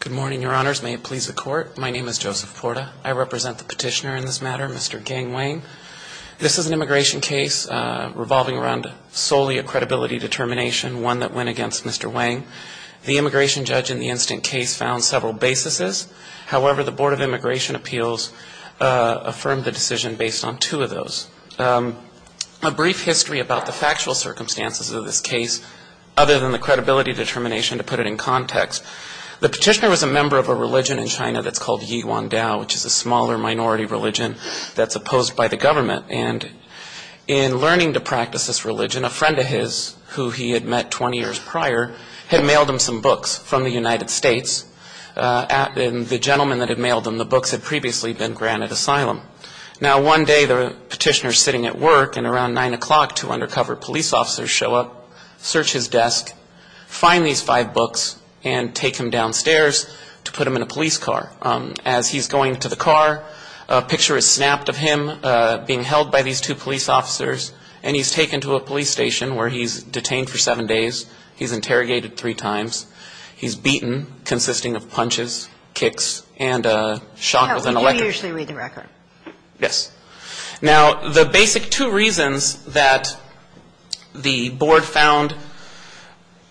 Good morning, your honors. May it please the court. My name is Joseph Porta. I represent the petitioner in this matter, Mr. Gang Wang. This is an immigration case revolving around solely a credibility determination, one that went against Mr. Wang. The immigration judge in the incident case found several basis. However, the Board of Immigration Appeals affirmed the decision based on two of those. A brief history about the factual circumstances of this case, other than the credibility determination, to put it in context. The petitioner was a member of a religion in China that's called Yi Wan Dao, which is a smaller minority religion that's opposed by the government. And in learning to practice this religion, a friend of his, who he had met 20 years prior, had mailed him some books from the United States. And the gentleman that had mailed him the books had previously been granted asylum. Now, one day the petitioner is sitting at work, and around 9 o'clock two undercover police officers show up, search his desk, find these five books, and take him downstairs to put him in a police car. As he's going to the car, a picture is snapped of him being held by these two police officers, and he's taken to a police station where he's detained for seven days. He's interrogated three times. He's beaten, consisting of punches, kicks, and a shot with an electric gun. No, you usually read the record. Yes. Now, the basic two reasons that the Board found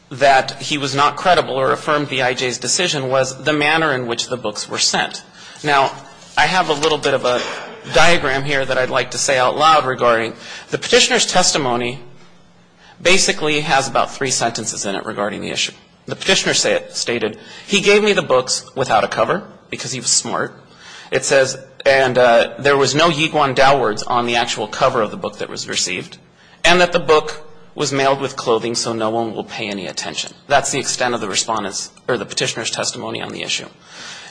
that he was not credible or affirmed the IJ's decision was the manner in which the books were sent. Now, I have a little bit of a diagram here that I'd like to say out loud regarding the petitioner's testimony basically has about three sentences in it regarding the issue. The petitioner stated, he gave me the books without a cover, because he was smart. It says, and there was no Yiguan Daowords on the actual cover of the book that was received, and that the book was mailed with clothing so no one will pay any attention. That's the extent of the petitioner's testimony on the issue.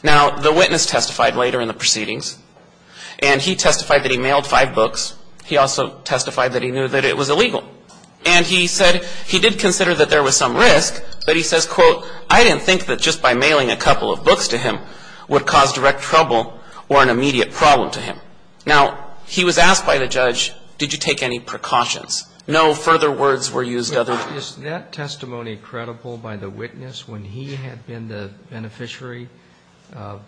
Now, the witness testified later in the proceedings, and he testified that he mailed five books. He also testified that he knew that it was illegal, and he said he did consider that there was some risk, but he says, quote, I didn't think that just by mailing a couple of books to him would cause direct trouble or an immediate problem to him. Now, he was asked by the judge, did you take any precautions? No further words were used other than that. Is that testimony credible by the witness when he had been the beneficiary of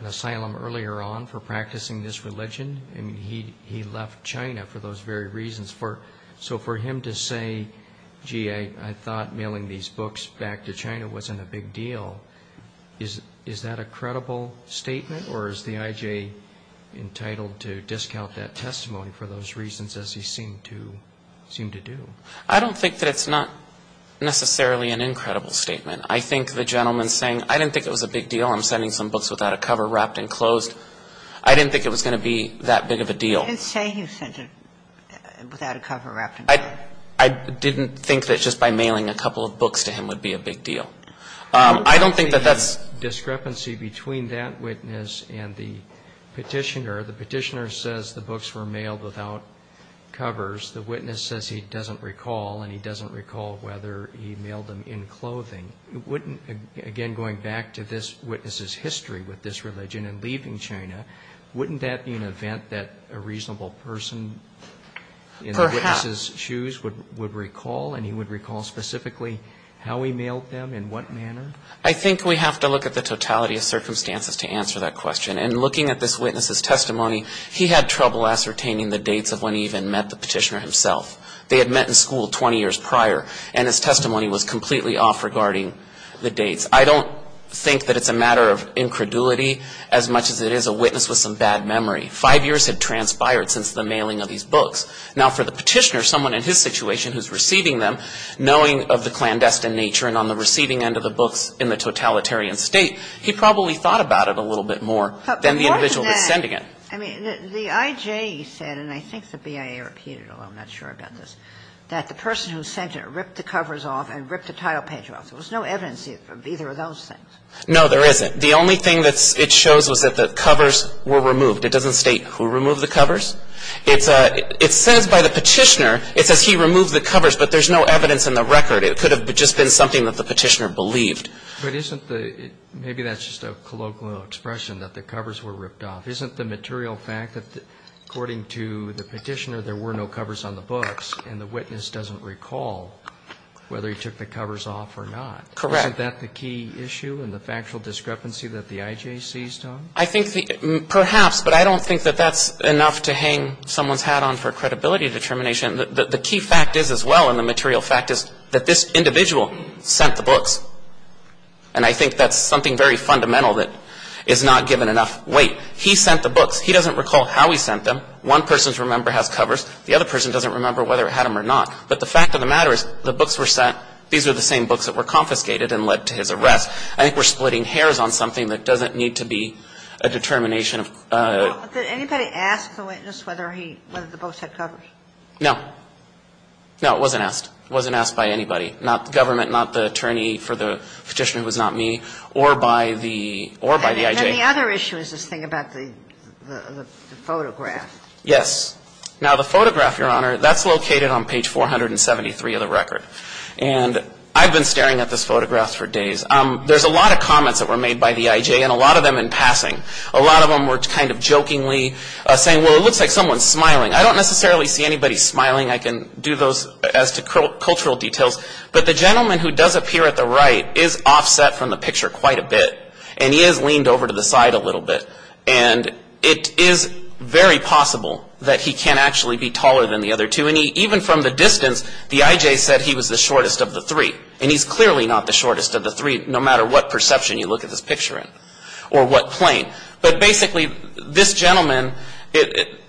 an asylum earlier on for practicing this religion, and he left China for those very reasons? So for him to say, gee, I thought mailing these books back to China wasn't a big deal, is that a credible statement, or is the IJ entitled to discount that testimony for those reasons as he seemed to do? I don't think that it's not necessarily an incredible statement. I think the gentleman's saying, I didn't think it was a big deal. I'm sending some books without a cover, wrapped and closed. I didn't think it was going to be that big of a deal. I didn't say he sent it without a cover, wrapped and closed. I didn't think that just by mailing a couple of books to him would be a big deal. I don't think that that's a big deal. I don't think there's any discrepancy between that witness and the petitioner. The petitioner says the books were mailed without covers. The witness says he doesn't recall, and he doesn't recall whether he mailed them in clothing. Again, going back to this witness's history with this religion and leaving China, wouldn't that be an event that a reasonable person in the witness's shoes would recall, and he would recall specifically how he mailed them, in what manner? I think we have to look at the totality of circumstances to answer that question. And looking at this witness's testimony, he had trouble ascertaining the dates of when he even met the petitioner himself. They had met in school 20 years prior, and his testimony was completely off regarding the dates. I don't think that it's a matter of incredulity as much as it is a witness with some bad memory. Five years had transpired since the mailing of these books. Now, for the petitioner, someone in his situation who's receiving them, knowing of the clandestine nature and on the receiving end of the books in the totalitarian state, he probably thought about it a little bit more than the individual who was sending it. I mean, the IJ said, and I think the BIA repeated it, although I'm not sure about this, that the person who sent it ripped the covers off and ripped the title page off. There was no evidence of either of those things. No, there isn't. The only thing that it shows was that the covers were removed. It doesn't state who removed the covers. It says by the petitioner, it says he removed the covers, but there's no evidence in the record. It could have just been something that the petitioner believed. But isn't the, maybe that's just a colloquial expression that the covers were ripped off. Isn't the material fact that according to the petitioner there were no covers on the books and the witness doesn't recall whether he took the covers off or not? Correct. Isn't that the key issue and the factual discrepancy that the IJ sees, Tom? I think perhaps, but I don't think that that's enough to hang someone's hat on for credibility determination. The key fact is as well in the material fact is that this individual sent the books. And I think that's something very fundamental that is not given enough weight. He sent the books. He doesn't recall how he sent them. One person's remember has covers. The other person doesn't remember whether it had them or not. But the fact of the matter is the books were sent. These were the same books that were confiscated and led to his arrest. I think we're splitting hairs on something that doesn't need to be a determination Did anybody ask the witness whether he, whether the books had covers? No. No, it wasn't asked. It wasn't asked by anybody, not the government, not the attorney for the petitioner who was not me, or by the IJ. And the other issue is this thing about the photograph. Yes. Now, the photograph, Your Honor, that's located on page 473 of the record. And I've been staring at this photograph for days. There's a lot of comments that were made by the IJ and a lot of them in passing. A lot of them were kind of jokingly saying, well, it looks like someone's smiling. I don't necessarily see anybody smiling. I can do those as to cultural details. But the gentleman who does appear at the right is offset from the picture quite a bit. And he is leaned over to the side a little bit. And it is very possible that he can actually be taller than the other two. And even from the distance, the IJ said he was the shortest of the three. And he's clearly not the shortest of the three, no matter what perception you look at this picture in or what plane. But basically, this gentleman,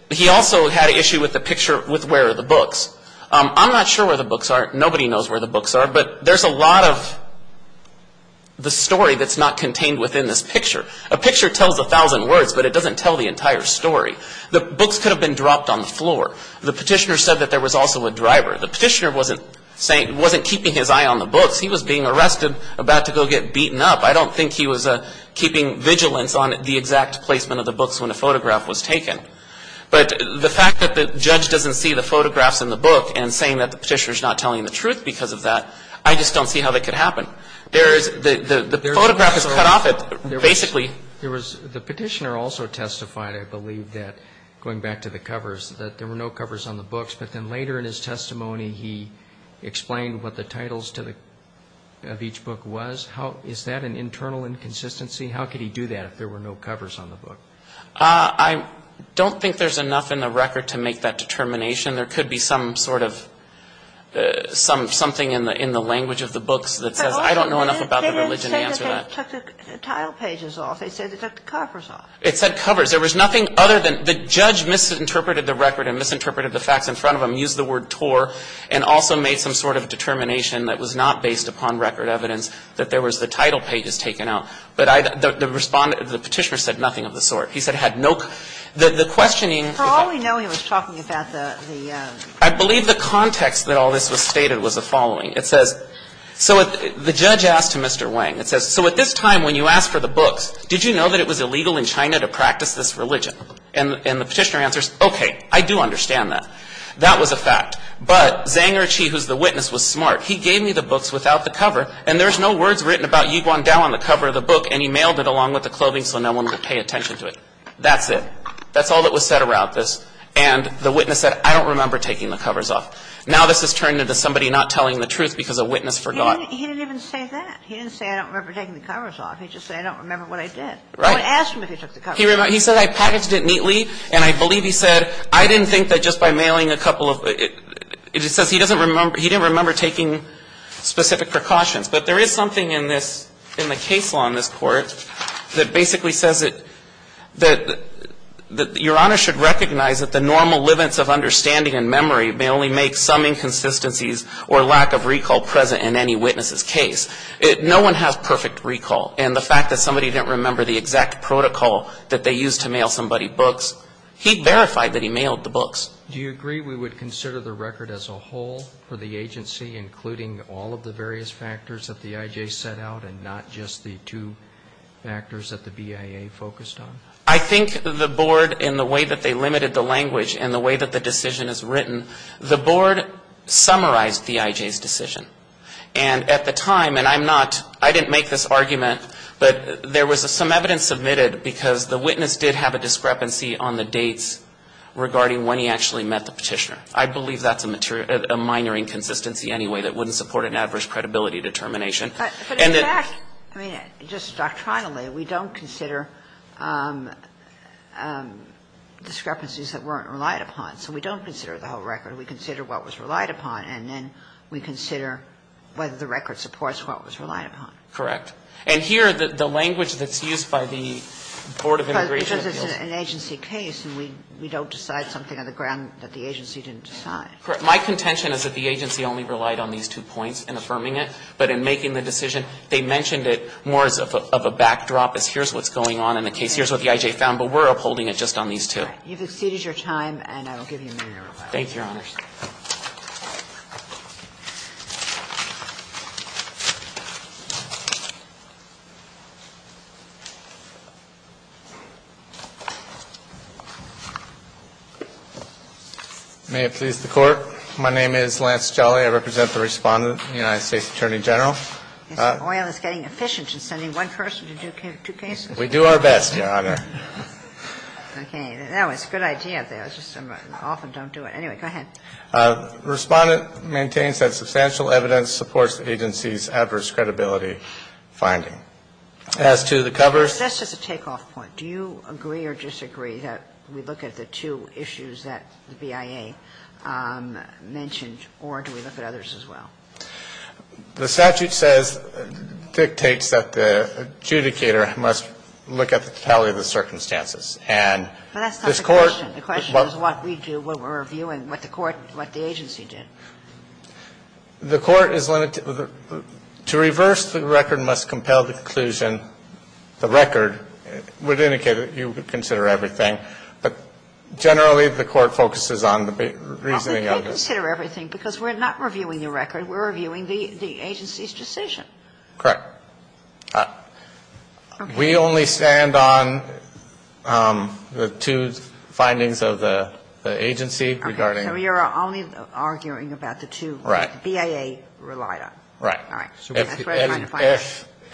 he also had an issue with the picture with where are the books. I'm not sure where the books are. Nobody knows where the books are. But there's a lot of the story that's not contained within this picture. A picture tells a thousand words, but it doesn't tell the entire story. The books could have been dropped on the floor. The petitioner said that there was also a driver. The petitioner wasn't keeping his eye on the books. He was being arrested, about to go get beaten up. I don't think he was keeping vigilance on the exact placement of the books when a photograph was taken. But the fact that the judge doesn't see the photographs in the book and saying that the petitioner is not telling the truth because of that, I just don't see how that could happen. The photograph is cut off basically. The petitioner also testified, I believe, going back to the covers, that there were no covers on the books. But then later in his testimony, he explained what the titles of each book was. Is that an internal inconsistency? How could he do that if there were no covers on the book? I don't think there's enough in the record to make that determination. There could be some sort of something in the language of the books that says I don't know enough about the religion to answer that. They didn't say they took the title pages off. They said they took the covers off. It said covers. There was nothing other than the judge misinterpreted the record and misinterpreted the facts in front of him, and also made some sort of determination that was not based upon record evidence that there was the title pages taken out. But the respondent, the petitioner, said nothing of the sort. He said he had no questioning. For all we know, he was talking about the ‑‑ I believe the context that all this was stated was the following. It says, so the judge asked Mr. Wang. It says, so at this time when you asked for the books, did you know that it was illegal in China to practice this religion? And the petitioner answers, okay, I do understand that. That was a fact. But Zhang Erqi, who's the witness, was smart. He gave me the books without the cover, and there's no words written about Yu Guangdao on the cover of the book, and he mailed it along with the clothing so no one would pay attention to it. That's it. That's all that was said around this, and the witness said, I don't remember taking the covers off. Now this has turned into somebody not telling the truth because a witness forgot. He didn't even say that. He didn't say, I don't remember taking the covers off. He just said, I don't remember what I did. Right. I would have asked him if he took the covers off. He said, I packaged it neatly, and I believe he said, I didn't think that just by mailing a couple of, it says he doesn't remember, he didn't remember taking specific precautions. But there is something in this, in the case law in this Court that basically says that, that Your Honor should recognize that the normal liveness of understanding and memory may only make some inconsistencies or lack of recall present in any witness's case. No one has perfect recall, and the fact that somebody didn't remember the exact protocol that they used to mail somebody books, he verified that he mailed the books. Do you agree we would consider the record as a whole for the agency, including all of the various factors that the IJ set out and not just the two factors that the BIA focused on? I think the Board, in the way that they limited the language and the way that the decision is written, the Board summarized the IJ's decision. And at the time, and I'm not, I didn't make this argument, but there was some evidence submitted because the witness did have a discrepancy on the dates regarding when he actually met the Petitioner. I believe that's a minor inconsistency anyway that wouldn't support an adverse credibility determination. But in fact, I mean, just doctrinally, we don't consider discrepancies that weren't relied upon. So we don't consider the whole record. We consider what was relied upon, and then we consider whether the record supports what was relied upon. Correct. And here, the language that's used by the Board of Immigration Appeals. Because it's an agency case, and we don't decide something on the ground that the agency didn't decide. Correct. My contention is that the agency only relied on these two points in affirming it, but in making the decision, they mentioned it more as of a backdrop, as here's what's going on in the case, here's what the IJ found, but we're upholding it just on these two. You've exceeded your time, and I will give you a minute to reply. Thank you, Your Honors. May it please the Court. My name is Lance Jolly. I represent the Respondent, the United States Attorney General. The oil is getting efficient in sending one person to do two cases. We do our best, Your Honor. Okay. That was a good idea. I was just off and don't do it. Anyway, go ahead. Respondent maintains that substantial evidence supports the agency's adverse credibility finding. As to the covers. That's just a takeoff point. Do you agree or disagree that we look at the two issues that the BIA mentioned, or do we look at others as well? The statute says, dictates that the adjudicator must look at the totality of the circumstances. And this Court. The question is what we do, what we're reviewing, what the Court, what the agency did. The Court is limited. To reverse the record must compel the conclusion. The record would indicate that you would consider everything. But generally, the Court focuses on the reasoning of it. We consider everything, because we're not reviewing the record. We're reviewing the agency's decision. Correct. We only stand on the two findings of the agency regarding. Okay. So you're only arguing about the two. Right. BIA relied on. Right. All right.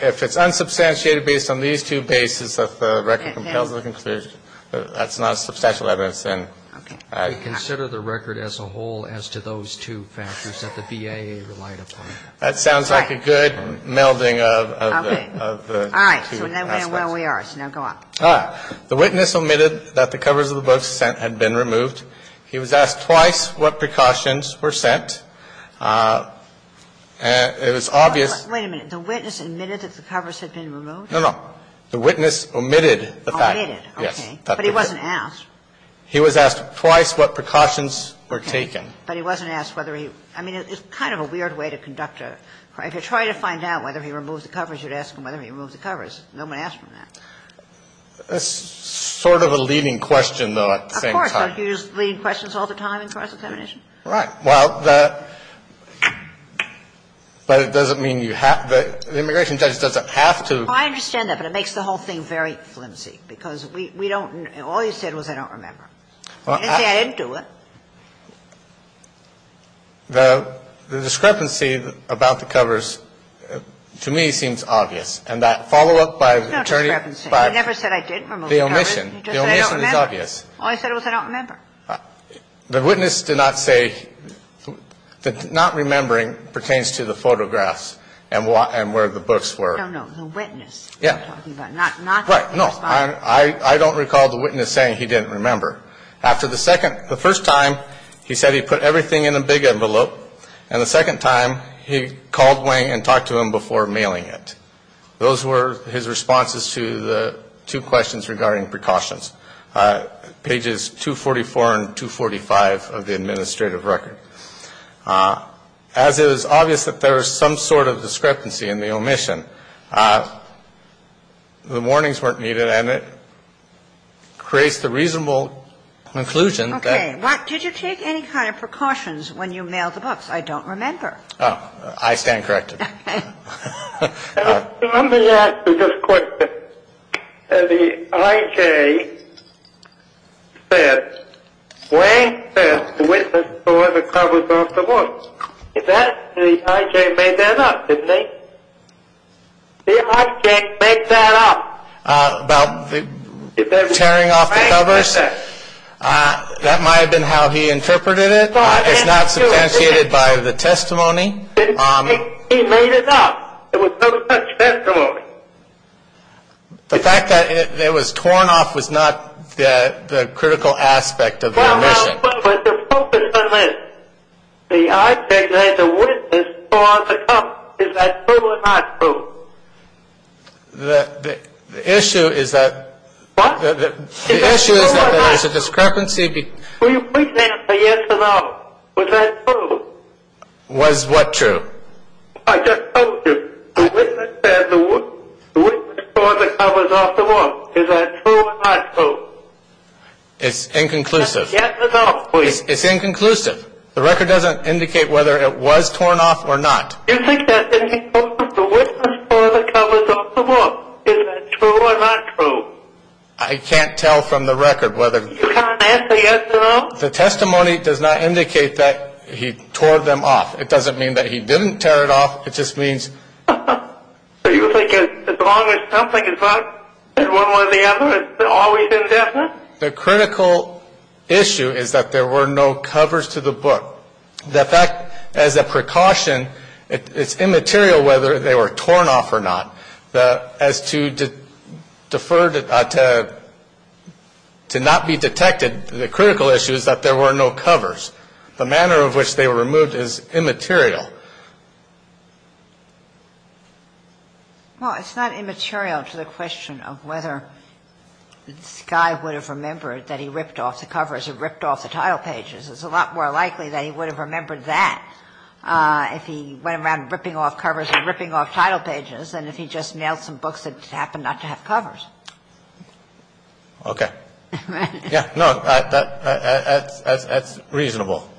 If it's unsubstantiated based on these two bases that the record compels the conclusion, that's not substantial evidence. Okay. We consider the record as a whole as to those two factors that the BIA relied upon. That sounds like a good melding of the two aspects. All right. So now where are we? So now go on. The witness omitted that the covers of the books sent had been removed. He was asked twice what precautions were sent. It was obvious. Wait a minute. The witness admitted that the covers had been removed? No, no. The witness omitted the fact. Omitted. But he wasn't asked. He was asked twice what precautions were taken. But he wasn't asked whether he. I mean, it's kind of a weird way to conduct a. If you're trying to find out whether he removed the covers, you'd ask him whether he removed the covers. No one asked him that. That's sort of a leading question, though, at the same time. Of course. Don't you use leading questions all the time in cross-examination? Right. Well, the. But it doesn't mean you have. The immigration judge doesn't have to. I understand that. But it makes the whole thing very flimsy, because we don't. All you said was I don't remember. You didn't say I didn't do it. The discrepancy about the covers, to me, seems obvious. And that follow-up by the attorney. No discrepancy. I never said I didn't remove the covers. The omission. The omission is obvious. All I said was I don't remember. The witness did not say that not remembering pertains to the photographs and where the books were. No, no. The witness. Not. No. I don't recall the witness saying he didn't remember. After the second. The first time, he said he put everything in a big envelope. And the second time, he called Wang and talked to him before mailing it. Those were his responses to the two questions regarding precautions. Pages 244 and 245 of the administrative record. As it is obvious that there is some sort of discrepancy in the omission, the warnings weren't needed. And it creates the reasonable conclusion that. Okay. Did you take any kind of precautions when you mailed the books? I don't remember. Oh, I stand corrected. Okay. Let me ask you this question. The I.J. said, Wang said the witness tore the covers off the books. The I.J. made that up, didn't he? The I.J. made that up. About tearing off the covers. That might have been how he interpreted it. It's not substantiated by the testimony. He made it up. There was no such testimony. The fact that it was torn off was not the critical aspect of the omission. The I.J. said the witness tore off the covers. Is that true or not true? The issue is that. What? The issue is that there is a discrepancy. Will you please answer yes or no. Was that true? Was what true? I just told you. The witness said the witness tore the covers off the books. Is that true or not true? It's inconclusive. Say yes or no, please. It's inconclusive. The record doesn't indicate whether it was torn off or not. You think that the witness tore the covers off the book. Is that true or not true? I can't tell from the record whether. You can't answer yes or no? The testimony does not indicate that he tore them off. It doesn't mean that he didn't tear it off. It just means. So you think as long as something is not one way or the other, it's always indefinite? The critical issue is that there were no covers to the book. So the fact as a precaution, it's immaterial whether they were torn off or not. As to defer to not be detected, the critical issue is that there were no covers. The manner of which they were removed is immaterial. Well, it's not immaterial to the question of whether this guy would have remembered that he ripped off the covers or ripped off the tile pages. It's a lot more likely that he would have remembered that if he went around ripping off covers or ripping off tile pages than if he just mailed some books that happened not to have covers. Okay. No, that's reasonable.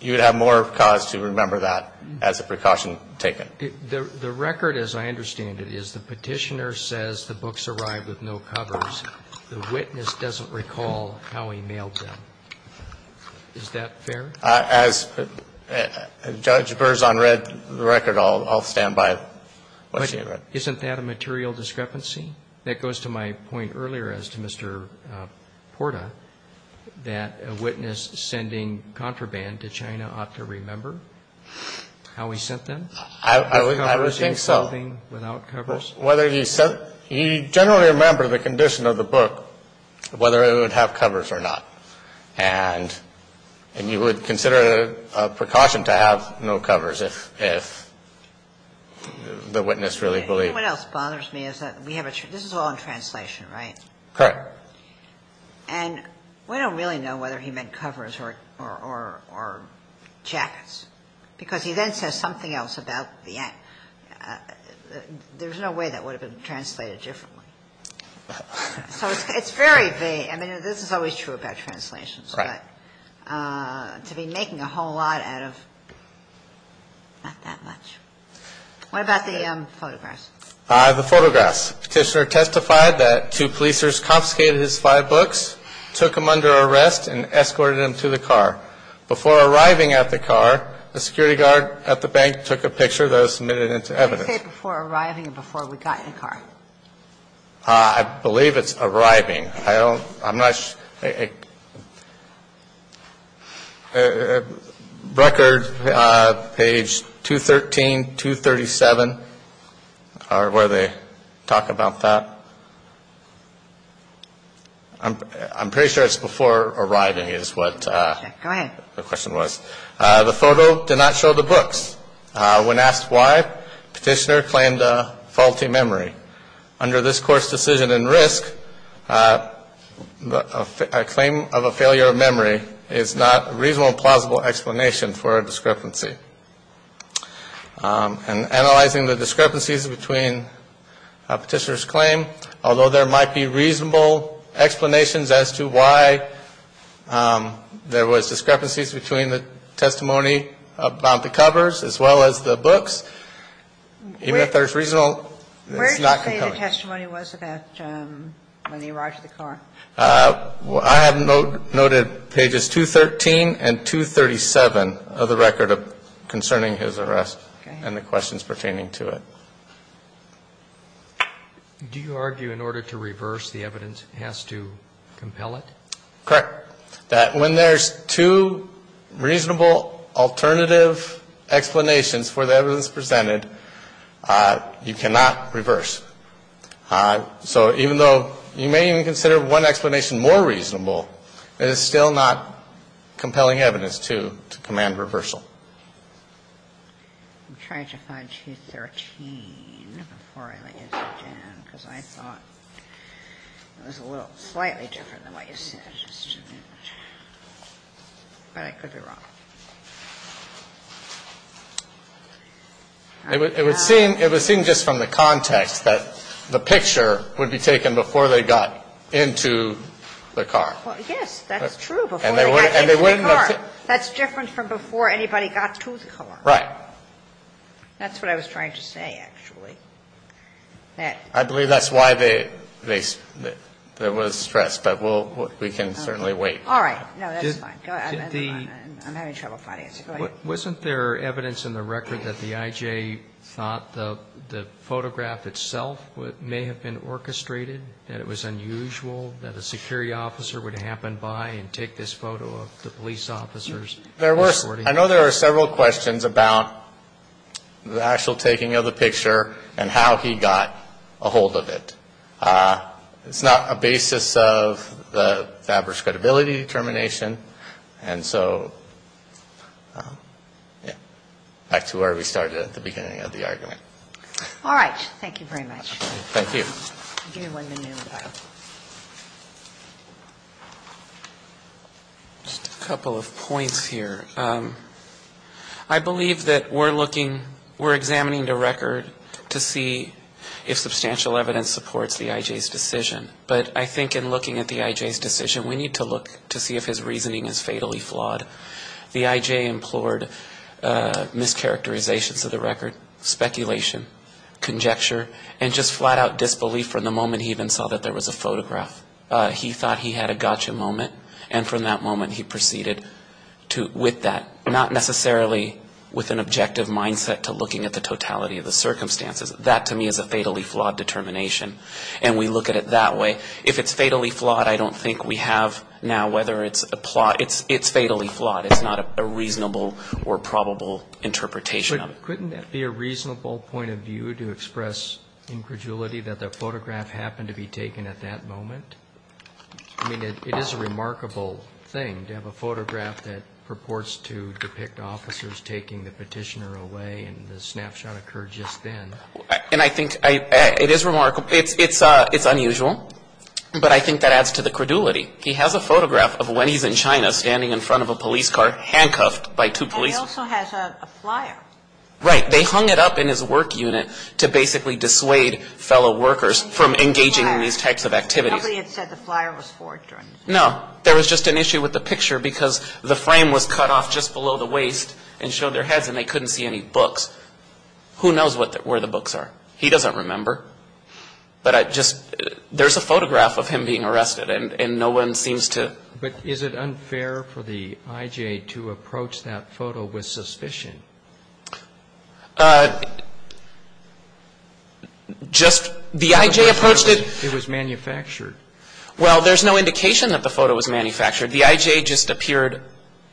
You would have more cause to remember that as a precaution taken. The record, as I understand it, is the Petitioner says the books arrived with no covers. The witness doesn't recall how he mailed them. Is that fair? As Judge Burr's on the record, I'll stand by what she had read. But isn't that a material discrepancy? That goes to my point earlier as to Mr. Porta, that a witness sending contraband to China ought to remember how he sent them? I would think so. With covers and clothing, without covers? Whether he sent them. He generally remembered the condition of the book, whether it would have covers or not. And you would consider it a precaution to have no covers if the witness really believed. What else bothers me is that this is all in translation, right? Correct. And we don't really know whether he meant covers or jackets because he then says something else about the end. There's no way that would have been translated differently. So it's very vague. I mean, this is always true about translations. Right. But to be making a whole lot out of not that much. What about the photographs? The photographs. Petitioner testified that two policers confiscated his five books, took him under arrest, and escorted him to the car. Before arriving at the car, a security guard at the bank took a picture that was submitted into evidence. What do you say before arriving and before we got in the car? I believe it's arriving. I'm not sure. Record, page 213, 237 are where they talk about that. I'm pretty sure it's before arriving is what the question was. Go ahead. The photo did not show the books. When asked why, Petitioner claimed a faulty memory. Under this Court's decision in risk, a claim of a failure of memory is not a reasonable and plausible explanation for a discrepancy. And analyzing the discrepancies between Petitioner's claim, although there might be reasonable explanations as to why there was discrepancies between the testimony about the covers as well as the books, even if there's reasonable, it's not compelling. Where do you say the testimony was about when he arrived at the car? I have noted pages 213 and 237 of the record concerning his arrest and the questions pertaining to it. Do you argue in order to reverse, the evidence has to compel it? Correct. That when there's two reasonable alternative explanations for the evidence presented, you cannot reverse. So even though you may even consider one explanation more reasonable, it is still not compelling evidence to command reversal. I'm trying to find 213 before I lay it down because I thought it was a little slightly different than what you said. But I could be wrong. It would seem just from the context that the picture would be taken before they got into the car. Yes, that's true, before they got into the car. That's different from before anybody got to the car. Right. That's what I was trying to say, actually. I believe that's why there was stress, but we can certainly wait. All right. No, that's fine. I'm having trouble finding it. Wasn't there evidence in the record that the I.J. thought the photograph itself may have been orchestrated, that it was unusual, that a security officer would happen by and take this photo of the police officers? I know there are several questions about the actual taking of the picture and how he got a hold of it. It's not a basis of the Faber's credibility determination. And so, yeah, back to where we started at the beginning of the argument. All right. Thank you very much. Thank you. I'll give you one minute in the pile. Just a couple of points here. I believe that we're looking, we're examining the record to see if substantial evidence supports the I.J.'s decision. But I think in looking at the I.J.'s decision, we need to look to see if his reasoning is fatally flawed. The I.J. implored mischaracterizations of the record, speculation, conjecture, and just flat-out disbelief from the moment he even saw that there was a photograph. He thought he had a gotcha moment, and from that moment he proceeded with that, not necessarily with an objective mindset to looking at the totality of the circumstances. That, to me, is a fatally flawed determination, and we look at it that way. If it's fatally flawed, I don't think we have now whether it's a plot. It's fatally flawed. It's not a reasonable or probable interpretation of it. Couldn't that be a reasonable point of view to express incredulity that the photograph happened to be taken at that moment? I mean, it is a remarkable thing to have a photograph that purports to depict officers taking the petitioner away, and the snapshot occurred just then. And I think it is remarkable. It's unusual, but I think that adds to the credulity. He has a photograph of when he's in China standing in front of a police car, handcuffed by two policemen. And he also has a flyer. Right. They hung it up in his work unit to basically dissuade fellow workers from engaging in these types of activities. Nobody had said the flyer was forged or anything. No. There was just an issue with the picture because the frame was cut off just below the waist and showed their heads, and they couldn't see any books. Who knows where the books are? He doesn't remember. But I just, there's a photograph of him being arrested, and no one seems to. But is it unfair for the I.J. to approach that photo with suspicion? Just, the I.J. approached it. It was manufactured. Well, there's no indication that the photo was manufactured. The I.J. just appeared,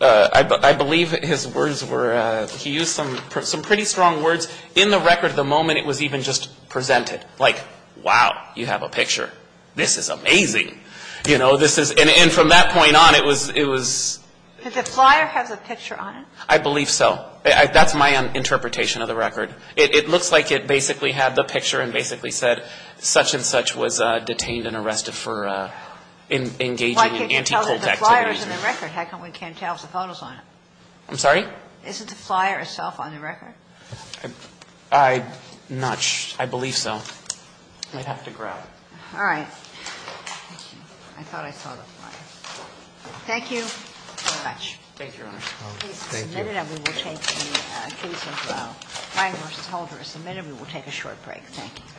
I believe his words were, he used some pretty strong words. In the record, the moment it was even just presented, like, wow, you have a picture. This is amazing. You know, this is, and from that point on, it was, it was. Did the flyer have the picture on it? I believe so. That's my interpretation of the record. It looks like it basically had the picture and basically said such and such was detained and arrested for engaging in anti-colt activities. Why can't you tell that the flyer is in the record? How come we can't tell if the photo's on it? I'm sorry? Is it the flyer itself on the record? I'm not sure. I believe so. I'd have to grab it. All right. Thank you. I thought I saw the flyer. Thank you very much. Thank you, Your Honor. Thank you. The case is submitted and we will take the case as well. Wine v. Holder is submitted. We will take a short break. Thank you.